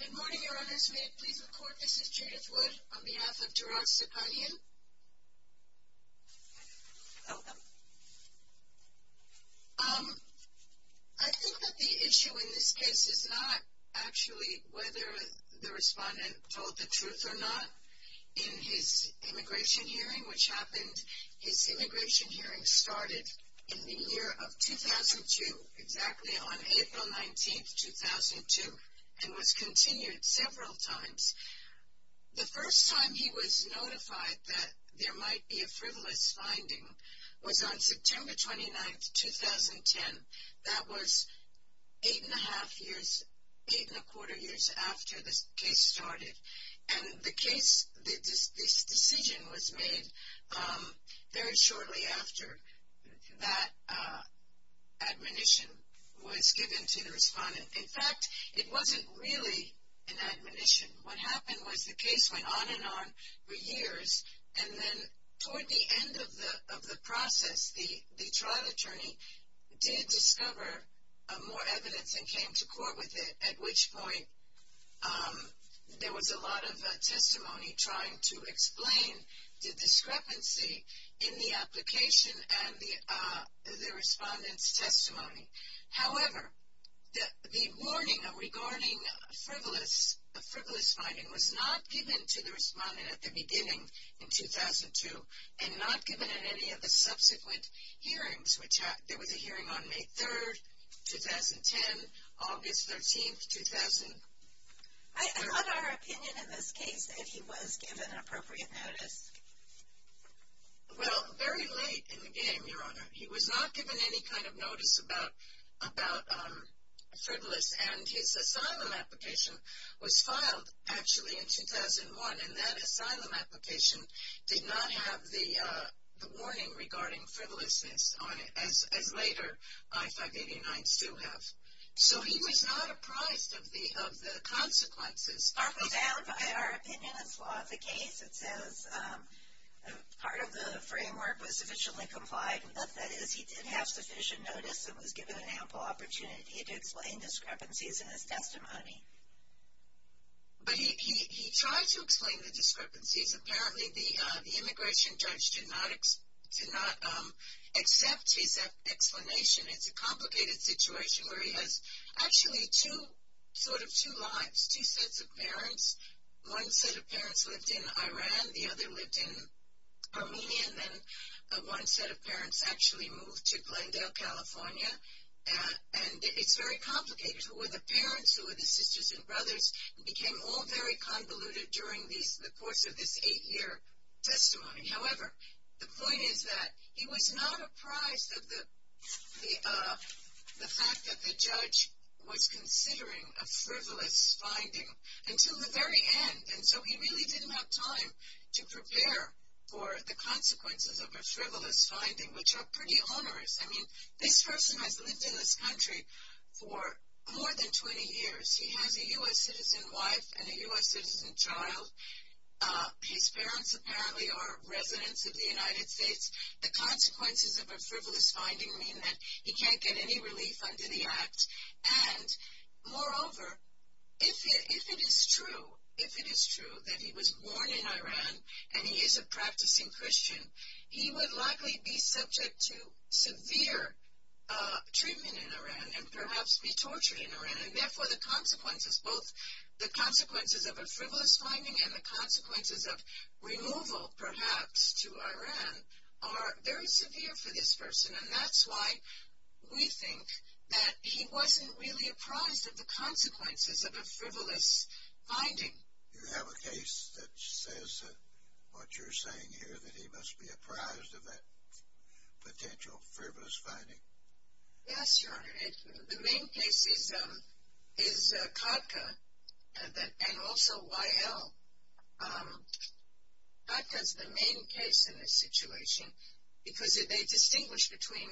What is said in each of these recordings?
Good morning, Your Honors. May it please the Court, this is Judith Wood on behalf of Durag Sipanian. I think that the issue in this case is not actually whether the respondent told the truth or not. In his immigration hearing, which happened, his immigration hearing started in the year of 2002, exactly on April 19, 2002, and was continued several times. The first time he was notified that there might be a frivolous finding was on September 29, 2010. That was eight and a half years, eight and a quarter years after this case started. And the case, this decision was made very shortly after that admonition was given to the respondent. In fact, it wasn't really an admonition. What happened was the case went on and on for years, and then toward the end of the process, the trial attorney did discover more evidence and came to court with it, at which point there was a lot of testimony trying to explain the discrepancy in the application and the respondent's testimony. However, the warning regarding frivolous finding was not given to the respondent at the beginning in 2002, and not given in any of the subsequent hearings. There was a hearing on May 3, 2010, August 13, 2000. I thought our opinion in this case that he was given appropriate notice. Well, very late in the game, Your Honor. He was not given any kind of notice about frivolous, and his asylum application was filed, actually, in 2001. And that asylum application did not have the warning regarding frivolousness on it, as later I-589s do have. So, he was not apprised of the consequences. Our opinion as far as the case, it says part of the framework was sufficiently complied. But that is, he did have sufficient notice and was given an ample opportunity to explain discrepancies in his testimony. But he tried to explain the discrepancies. Apparently, the immigration judge did not accept his explanation. It's a complicated situation where he has, actually, sort of two lives, two sets of parents. One set of parents lived in Iran. The other lived in Armenia. And then one set of parents actually moved to Glendale, California. And it's very complicated. Who were the parents? Who were the sisters and brothers? It became all very convoluted during the course of this eight-year testimony. However, the point is that he was not apprised of the fact that the judge was considering a frivolous finding until the very end. And so, he really didn't have time to prepare for the consequences of a frivolous finding, which are pretty onerous. I mean, this person has lived in this country for more than 20 years. He has a U.S. citizen wife and a U.S. citizen child. His parents apparently are residents of the United States. The consequences of a frivolous finding mean that he can't get any relief under the act. And, moreover, if it is true, if it is true that he was born in Iran and he is a practicing Christian, he would likely be subject to severe treatment in Iran and perhaps be tortured in Iran. And, therefore, the consequences, both the consequences of a frivolous finding and the consequences of removal, perhaps, to Iran are very severe for this person. And, that's why we think that he wasn't really apprised of the consequences of a frivolous finding. You have a case that says what you're saying here, that he must be apprised of that potential frivolous finding. Yes, Your Honor. The main case is Kodka and also YL. Kodka is the main case in this situation because they distinguish between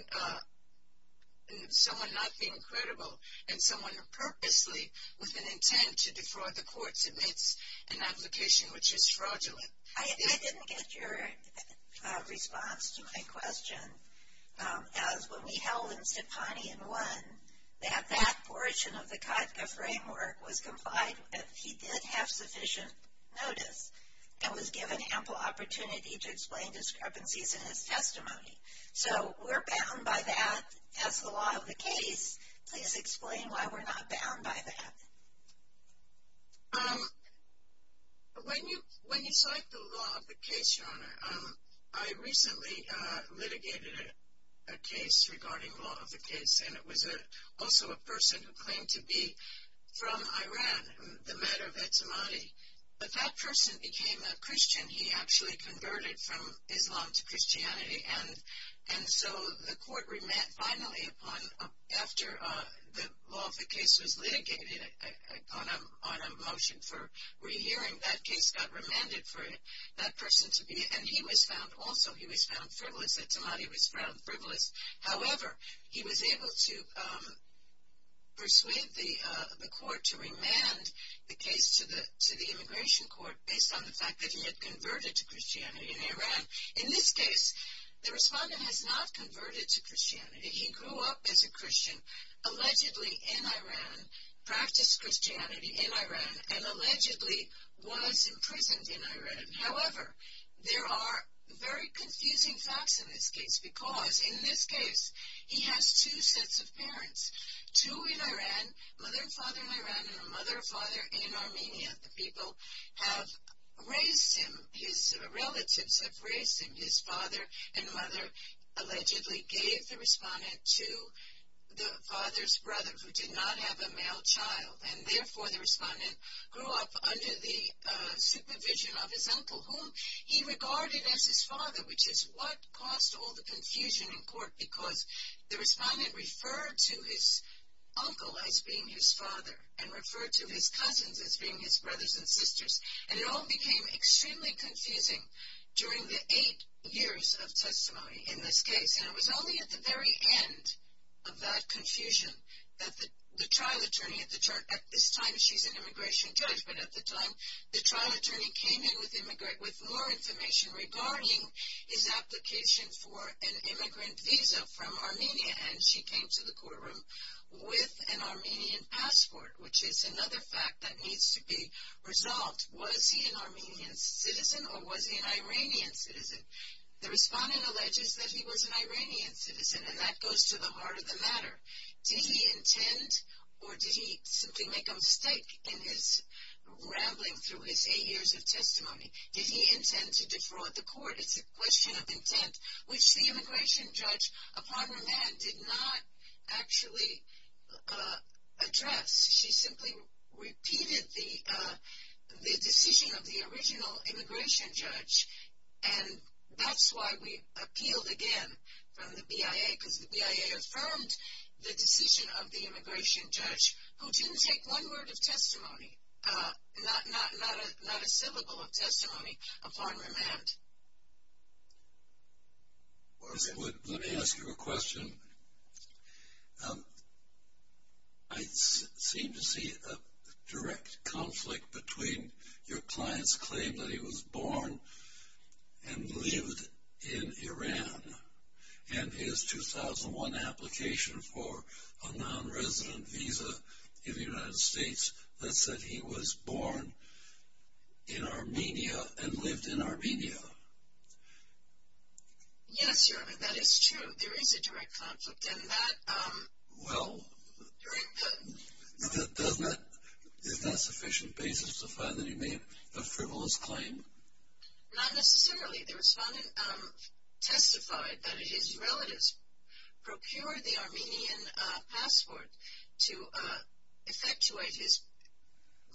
someone not being credible and someone who purposely with an intent to defraud the courts admits an application which is fraudulent. I didn't get your response to my question. As when we held in Stepani and won, that that portion of the Kodka framework was complied with. He did have sufficient notice and was given ample opportunity to explain discrepancies in his testimony. So, we're bound by that as the law of the case. Please explain why we're not bound by that. When you cite the law of the case, Your Honor, I recently litigated a case regarding law of the case. And, it was also a person who claimed to be from Iran, the matter of Etemadi. But, that person became a Christian. And so, the court remanded finally upon after the law of the case was litigated on a motion for rehearing. That case got remanded for that person to be. And, he was found also. He was found frivolous. Etemadi was found frivolous. However, he was able to persuade the court to remand the case to the immigration court based on the fact that he had converted to Christianity in Iran. In this case, the respondent has not converted to Christianity. He grew up as a Christian, allegedly in Iran, practiced Christianity in Iran, and allegedly was imprisoned in Iran. However, there are very confusing facts in this case. Because, in this case, he has two sets of parents. Two in Iran, a mother and father in Iran and a mother and father in Armenia. The people have raised him. His relatives have raised him. His father and mother allegedly gave the respondent to the father's brother, who did not have a male child. And, therefore, the respondent grew up under the supervision of his uncle, whom he regarded as his father, because the respondent referred to his uncle as being his father and referred to his cousins as being his brothers and sisters. And, it all became extremely confusing during the eight years of testimony in this case. And, it was only at the very end of that confusion that the trial attorney, at this time she's an immigration judge, but at the time the trial attorney came in with more information regarding his application for an immigrant visa from Armenia. And, she came to the courtroom with an Armenian passport, which is another fact that needs to be resolved. Was he an Armenian citizen or was he an Iranian citizen? The respondent alleges that he was an Iranian citizen and that goes to the heart of the matter. Did he intend or did he simply make a mistake in his rambling through his eight years of testimony? Did he intend to defraud the court? It's a question of intent, which the immigration judge, a partner man, did not actually address. She simply repeated the decision of the original immigration judge. And, that's why we appealed again from the BIA because the BIA affirmed the decision of the immigration judge, who didn't take one word of testimony, not a syllable of testimony, upon remand. Mr. Wood, let me ask you a question. I seem to see a direct conflict between your client's claim that he was born and lived in Iran and his 2001 application for a non-resident visa in the United States that said he was born in Armenia and lived in Armenia. Yes, Your Honor, that is true. There is a direct conflict in that. Well, isn't that sufficient basis to find that he made a frivolous claim? Not necessarily. The respondent testified that his relatives procured the Armenian passport to effectuate his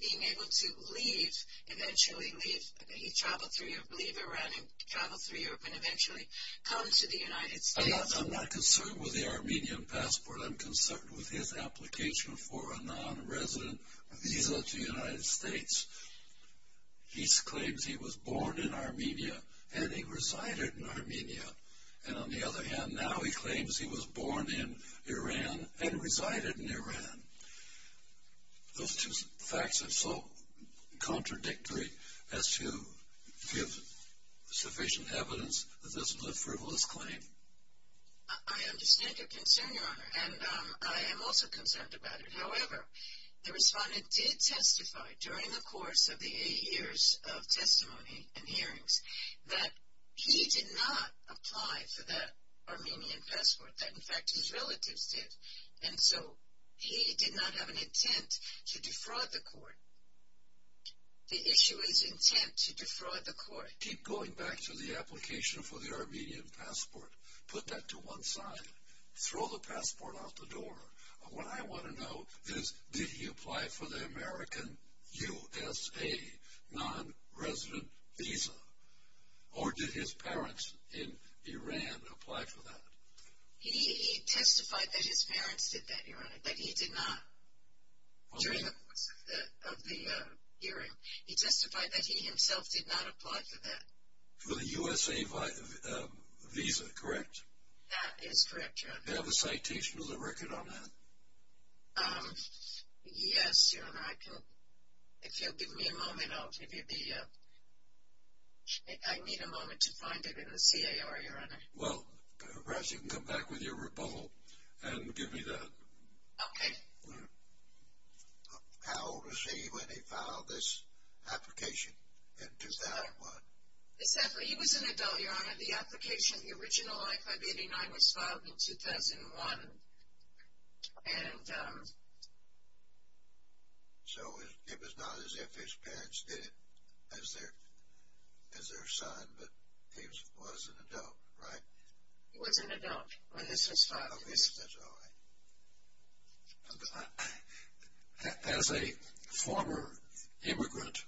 being able to leave, eventually leave Iran and travel through Europe and eventually come to the United States. I'm not concerned with the Armenian passport. I'm concerned with his application for a non-resident visa to the United States. He claims he was born in Armenia and he resided in Armenia. And on the other hand, now he claims he was born in Iran and resided in Iran. Those two facts are so contradictory as to give sufficient evidence that this was a frivolous claim. I understand your concern, Your Honor, and I am also concerned about it. However, the respondent did testify during the course of the eight years of testimony and hearings that he did not apply for that Armenian passport, that in fact his relatives did. And so he did not have an intent to defraud the court. The issue is intent to defraud the court. Keep going back to the application for the Armenian passport. Put that to one side. Throw the passport out the door. What I want to know is did he apply for the American USA non-resident visa? Or did his parents in Iran apply for that? He testified that his parents did that, Your Honor, that he did not. During the course of the hearing, he testified that he himself did not apply for that. For the USA visa, correct? That is correct, Your Honor. Do you have a citation of the record on that? Yes, Your Honor. If you'll give me a moment, I'll give you the... I need a moment to find it in the CAR, Your Honor. Well, perhaps you can come back with your rebuttal and give me that. Okay. How old was he when he filed this application in 2001? He was an adult, Your Honor. The application, the original I-589 was filed in 2001, and... So it was not as if his parents did it as their son, but he was an adult, right? He was an adult when this was filed. Okay, that's all right. As a former immigrant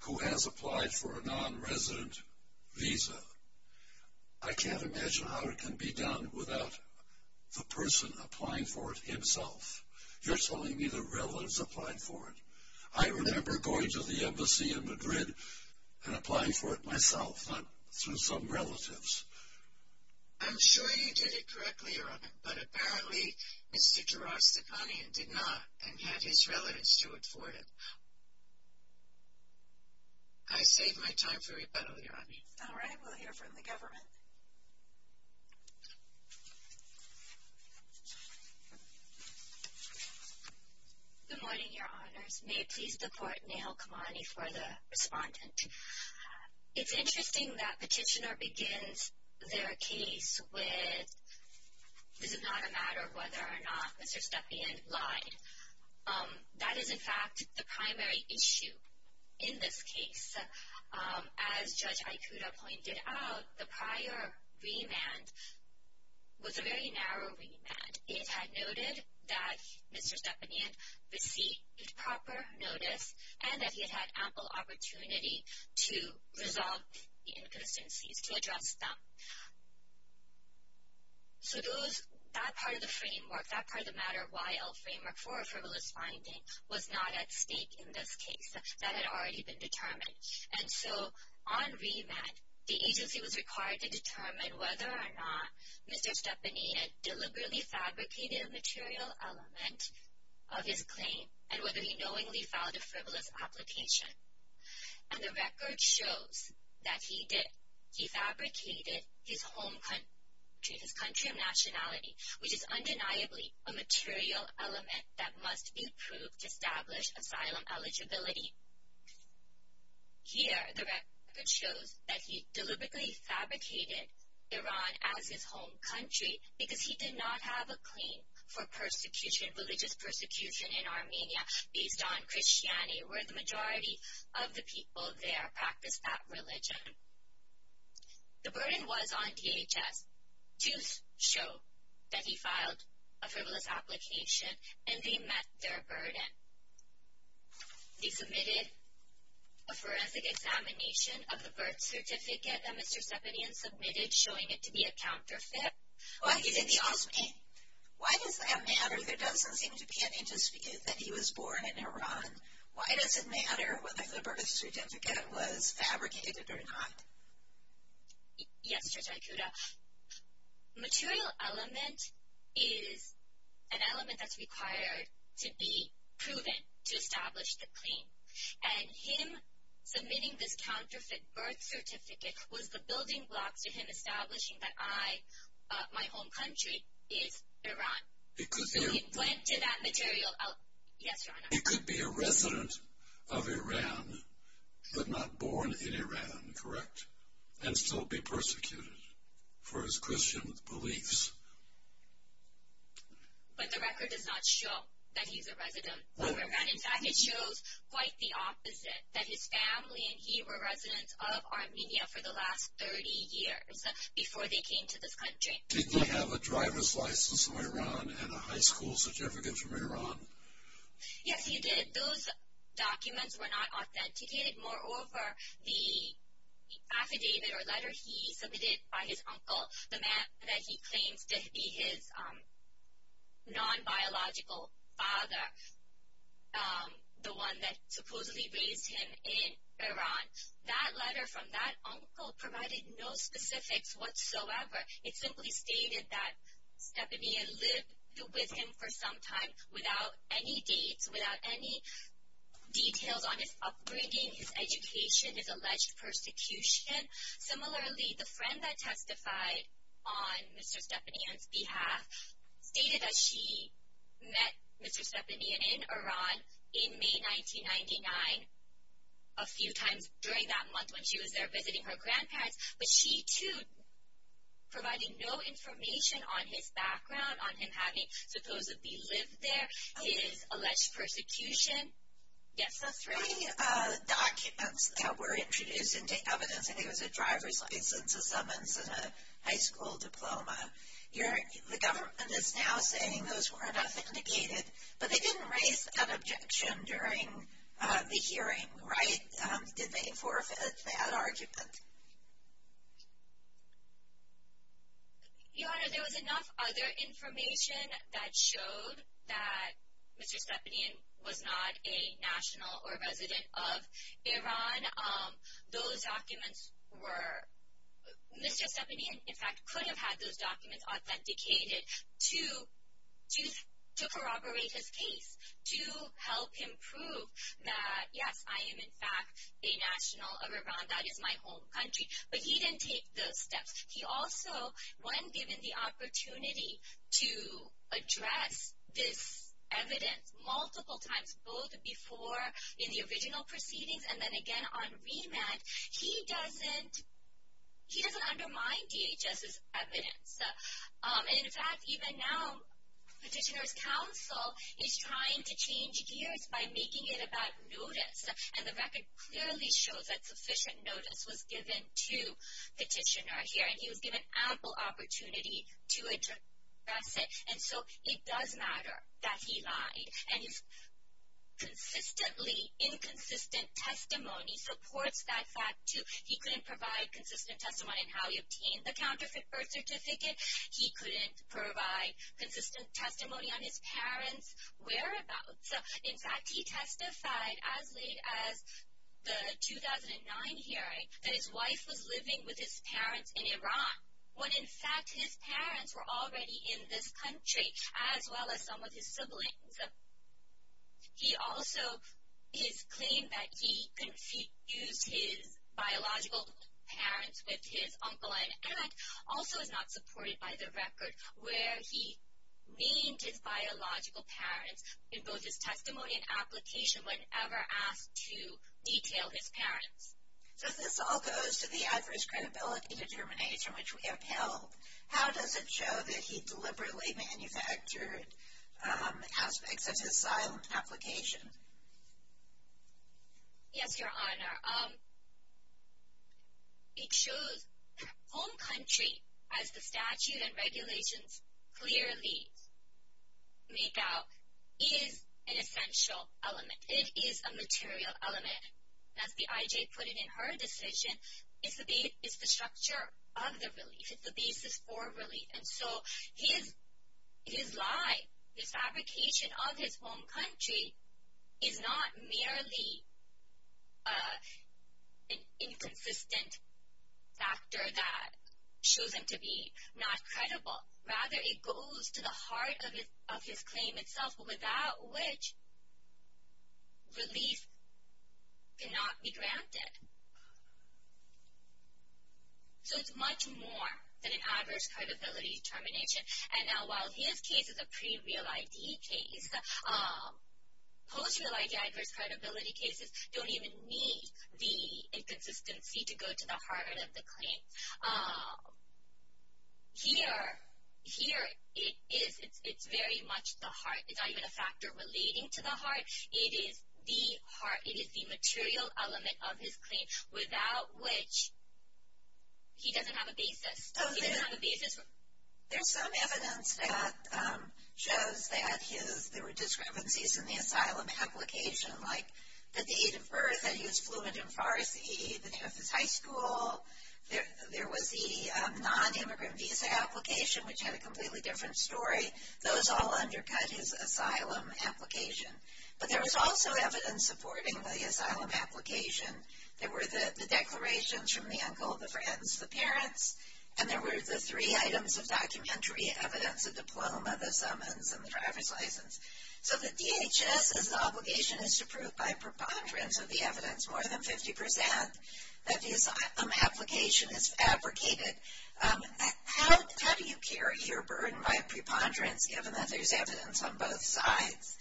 who has applied for a non-resident visa, I can't imagine how it can be done without the person applying for it himself. You're telling me the relatives applied for it. I remember going to the embassy in Madrid and applying for it myself, not through some relatives. I'm sure you did it correctly, Your Honor, but apparently Mr. Durastakhanian did not and had his relatives to afford it. I save my time for rebuttal, Your Honor. All right, we'll hear from the government. Good morning, Your Honors. May it please the Court, Neha Kamani for the respondent. It's interesting that petitioner begins their case with, this is not a matter of whether or not Mr. Stepanian lied. That is, in fact, the primary issue in this case. As Judge Ikuda pointed out, the prior remand was a very narrow remand. It had noted that Mr. Stepanian received proper notice and that he had ample opportunity to resolve the inconsistencies, to address them. So that part of the framework, that part of the matter, YL framework for a frivolous finding was not at stake in this case. That had already been determined. And so on remand, the agency was required to determine whether or not Mr. Stepanian deliberately fabricated a material element of his claim and whether he knowingly filed a frivolous application. And the record shows that he did. He fabricated his home country, his country of nationality, which is undeniably a material element that must be approved to establish asylum eligibility. Here, the record shows that he deliberately fabricated Iran as his home country because he did not have a claim for persecution, religious persecution in Armenia, based on Christianity, where the majority of the people there practiced that religion. The burden was on DHS. Just show that he filed a frivolous application and they met their burden. They submitted a forensic examination of the birth certificate that Mr. Stepanian submitted, showing it to be a counterfeit. Why does that matter? There doesn't seem to be any dispute that he was born in Iran. Why does it matter whether the birth certificate was fabricated or not? Yes, Judge Aikuda. Material element is an element that's required to be proven to establish the claim. And him submitting this counterfeit birth certificate was the building blocks to him establishing that my home country is Iran. He went to that material element. Yes, Your Honor. He could be a resident of Iran, but not born in Iran, correct? And still be persecuted for his Christian beliefs. And in fact, it shows quite the opposite. That his family and he were residents of Armenia for the last 30 years, before they came to this country. Did he have a driver's license from Iran and a high school certificate from Iran? Yes, he did. Those documents were not authenticated. Moreover, the affidavit or letter he submitted by his uncle, the man that he claims to be his non-biological father, the one that supposedly raised him in Iran, that letter from that uncle provided no specifics whatsoever. It simply stated that Stepanian lived with him for some time without any dates, without any details on his upbringing, his education, his alleged persecution. Similarly, the friend that testified on Mr. Stepanian's behalf stated that she met Mr. Stepanian in Iran in May 1999, a few times during that month when she was there visiting her grandparents. But she, too, provided no information on his background, on him having supposedly lived there, his alleged persecution. The three documents that were introduced into evidence, I think it was a driver's license, a summons, and a high school diploma, the government is now saying those weren't authenticated, but they didn't raise that objection during the hearing, right? Did they forfeit that argument? Your Honor, there was enough other information that showed that Mr. Stepanian was not a national or a resident of Iran. Those documents were... Mr. Stepanian, in fact, could have had those documents authenticated to corroborate his case, to help him prove that, yes, I am, in fact, a national of Iran, that is my home country, but he didn't take those steps. He also, when given the opportunity to address this evidence multiple times, both before in the original proceedings and then again on remand, he doesn't undermine DHS's evidence. In fact, even now, Petitioner's counsel is trying to change gears by making it about notice, and the record clearly shows that sufficient notice was given to Petitioner here, and he was given ample opportunity to address it, and so it does matter that he lied, and his consistently inconsistent testimony supports that fact, too. He couldn't provide consistent testimony on how he obtained the counterfeit birth certificate. He couldn't provide consistent testimony on his parents' whereabouts. So, in fact, he testified as late as the 2009 hearing that his wife was living with his parents in Iran, when in fact his parents were already in this country, as well as some of his siblings. He also, his claim that he confused his biological parents with his uncle and aunt also is not supported by the record where he named his biological parents in both his testimony and application whenever asked to detail his parents. So if this all goes to the adverse credibility determination which we upheld, how does it show that he deliberately manufactured aspects of his silent application? Yes, Your Honor. It shows home country, as the statute and regulations clearly make out, is an essential element. It is a material element. As the I.J. put it in her decision, it's the structure of the relief. It's the basis for relief. And so his lie, his fabrication of his home country, is not merely an inconsistent factor that shows him to be not credible. Rather, it goes to the heart of his claim itself, without which relief cannot be granted. So it's much more than an adverse credibility determination. And while his case is a pre-real ID case, post-real ID adverse credibility cases don't even need the inconsistency to go to the heart of the claim. Here, it's very much the heart. It's not even a factor relating to the heart. It is the heart. It is the material element of his claim, without which he doesn't have a basis. He doesn't have a basis. There's some evidence that shows that there were discrepancies in the asylum application, like that the age of birth, that he was fluent in Farsi, that he didn't have his high school. There was the non-immigrant visa application, which had a completely different story. Those all undercut his asylum application. But there was also evidence supporting the asylum application. There were the declarations from the uncle, the friends, the parents. And there were the three items of documentary evidence, the diploma, the summons, and the driver's license. So the DHS's obligation is to prove by preponderance of the evidence, more than 50%, that the asylum application is fabricated. How do you carry your burden by preponderance, given that there's evidence on both sides?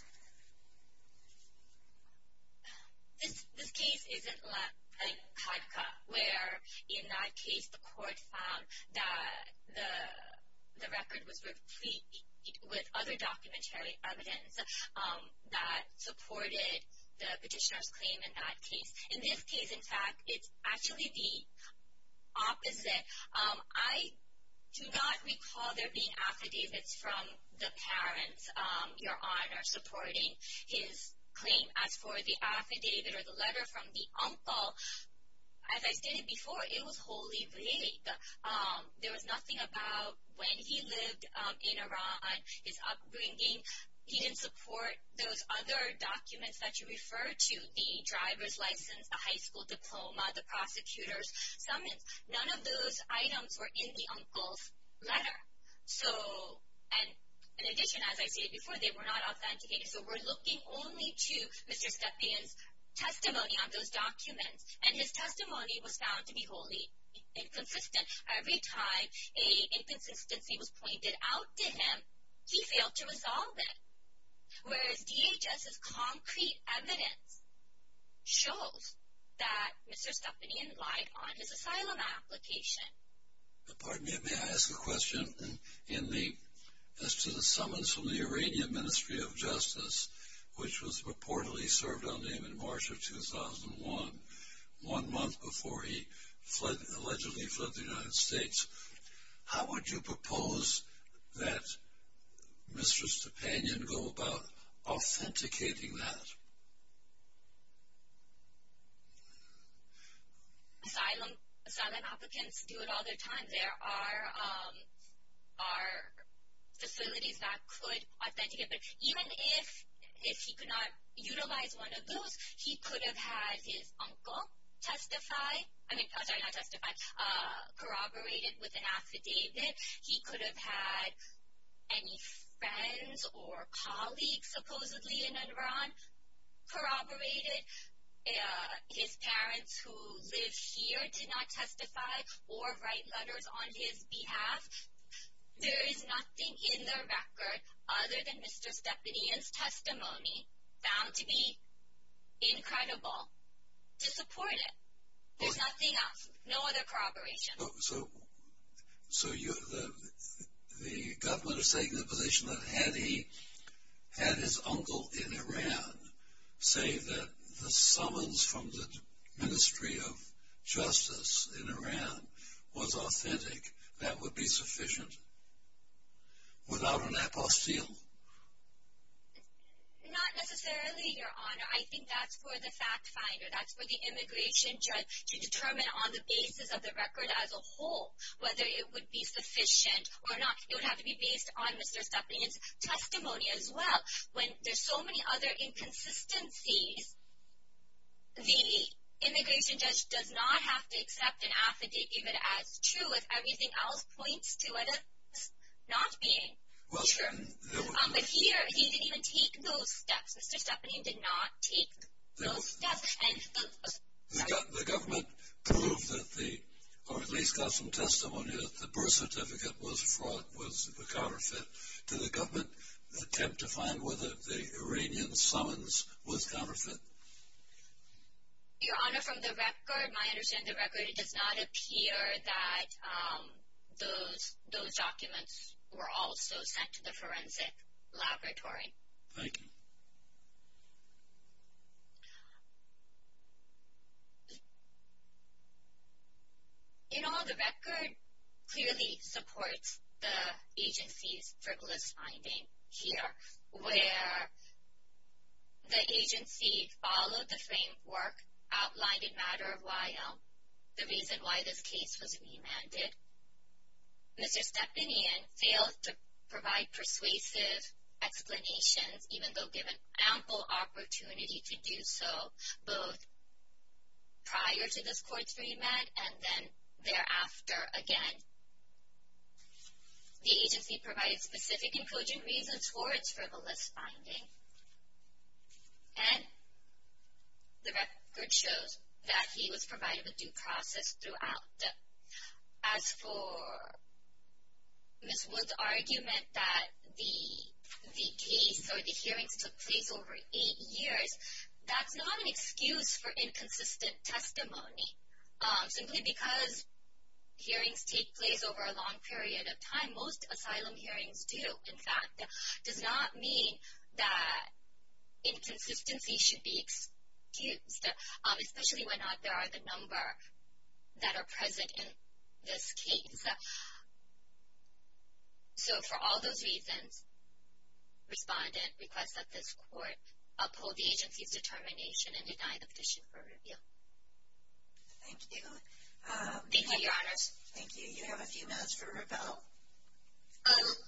This case isn't like CADCA, where in that case the court found that the record was replete with other documentary evidence that supported the petitioner's claim in that case. In this case, in fact, it's actually the opposite. I do not recall there being affidavits from the parents, Your Honor, supporting his claim. As for the affidavit or the letter from the uncle, as I stated before, it was wholly vague. There was nothing about when he lived in Iran, his upbringing. He didn't support those other documents that you refer to, the driver's license, the high school diploma, the prosecutor's summons. None of those items were in the uncle's letter. And in addition, as I stated before, they were not authenticated. So we're looking only to Mr. Stepien's testimony on those documents. And his testimony was found to be wholly inconsistent. Every time an inconsistency was pointed out to him, he failed to resolve it. Whereas DHS's concrete evidence shows that Mr. Stepien lied on his asylum application. Pardon me, may I ask a question? As to the summons from the Iranian Ministry of Justice, which was reportedly served on him in March of 2001, one month before he allegedly fled the United States, how would you propose that Mr. Stepien go about authenticating that? Asylum applicants do it all the time. There are facilities that could authenticate it. Even if he could not utilize one of those, he could have had his uncle corroborate it with an affidavit. He could have had any friends or colleagues supposedly in Iran corroborate it. His parents who live here did not testify or write letters on his behalf. There is nothing in the record other than Mr. Stepien's testimony found to be incredible to support it. There's nothing else. No other corroboration. So the government is taking the position that had he had his uncle in Iran say that the summons from the Ministry of Justice in Iran was authentic, that would be sufficient without an apostille? Not necessarily, Your Honor. I think that's for the fact finder. That's for the immigration judge to determine on the basis of the record as a whole whether it would be sufficient or not. It would have to be based on Mr. Stepien's testimony as well. When there's so many other inconsistencies, the immigration judge does not have to accept an affidavit as true if everything else points to it as not being true. But here, he didn't even take those steps. Mr. Stepien did not take those steps. The government proved, or at least got some testimony that the birth certificate was a fraud, was a counterfeit. Did the government attempt to find whether the Iranian summons was counterfeit? Your Honor, from the record, my understanding of the record, it does not appear that those documents were also sent to the forensic laboratory. Thank you. In all, the record clearly supports the agency's frivolous finding here, where the agency followed the framework outlined in Matter of While, the reason why this case was remanded. Mr. Stepien failed to provide persuasive explanations, even though given ample opportunity to do so both prior to this court's remand and then thereafter again. The agency provided specific and cogent reasons for its frivolous finding. And the record shows that he was provided with due process throughout. As for Ms. Wood's argument that the case or the hearings took place over eight years, that's not an excuse for inconsistent testimony. Simply because hearings take place over a long period of time, most asylum hearings do, in fact. It does not mean that inconsistency should be excused, especially when there are the number that are present in this case. So for all those reasons, respondent requests that this court uphold the agency's determination and deny the petition for reveal. Thank you. Thank you, Your Honors. Thank you. You have a few minutes for reveal.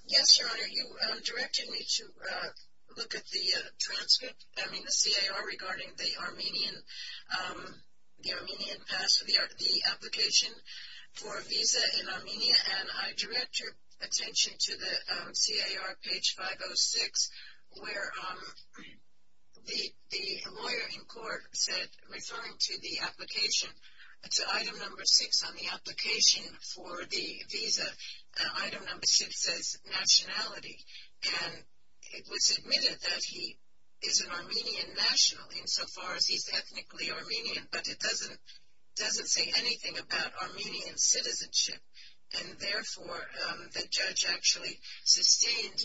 Yes, Your Honor. Your Honor, you directed me to look at the transcript, I mean the CAR, regarding the Armenian pass, the application for a visa in Armenia. And I direct your attention to the CAR, page 506, where the lawyer in court said, referring to the application, to item number six on the application for the visa, item number six says nationality. And it was admitted that he is an Armenian national insofar as he's ethnically Armenian, but it doesn't say anything about Armenian citizenship. And therefore, the judge actually sustained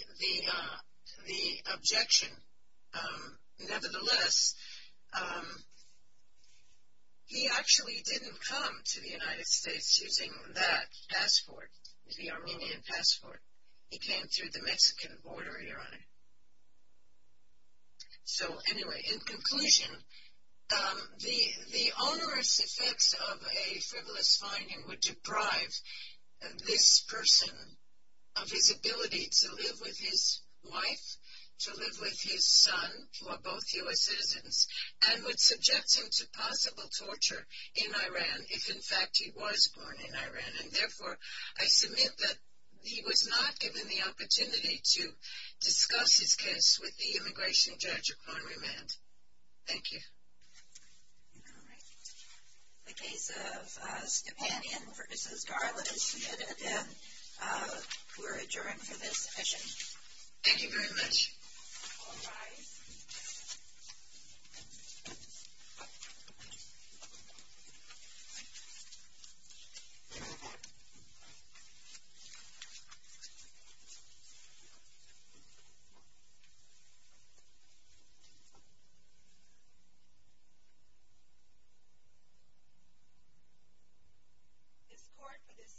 the objection. Nevertheless, he actually didn't come to the United States using that passport, the Armenian passport. He came through the Mexican border, Your Honor. So anyway, in conclusion, the onerous effects of a frivolous finding would deprive this person of his ability to live with his wife, to live with his son, who are both U.S. citizens, and would subject him to possible torture in Iran if, in fact, he was born in Iran. And therefore, I submit that he was not given the opportunity to discuss his case with the immigration judge or crime remand. Thank you. All right. The case of Stepanian v. Garland is submitted again. We're adjourned for this session. All rise. This court for this session stands adjourned.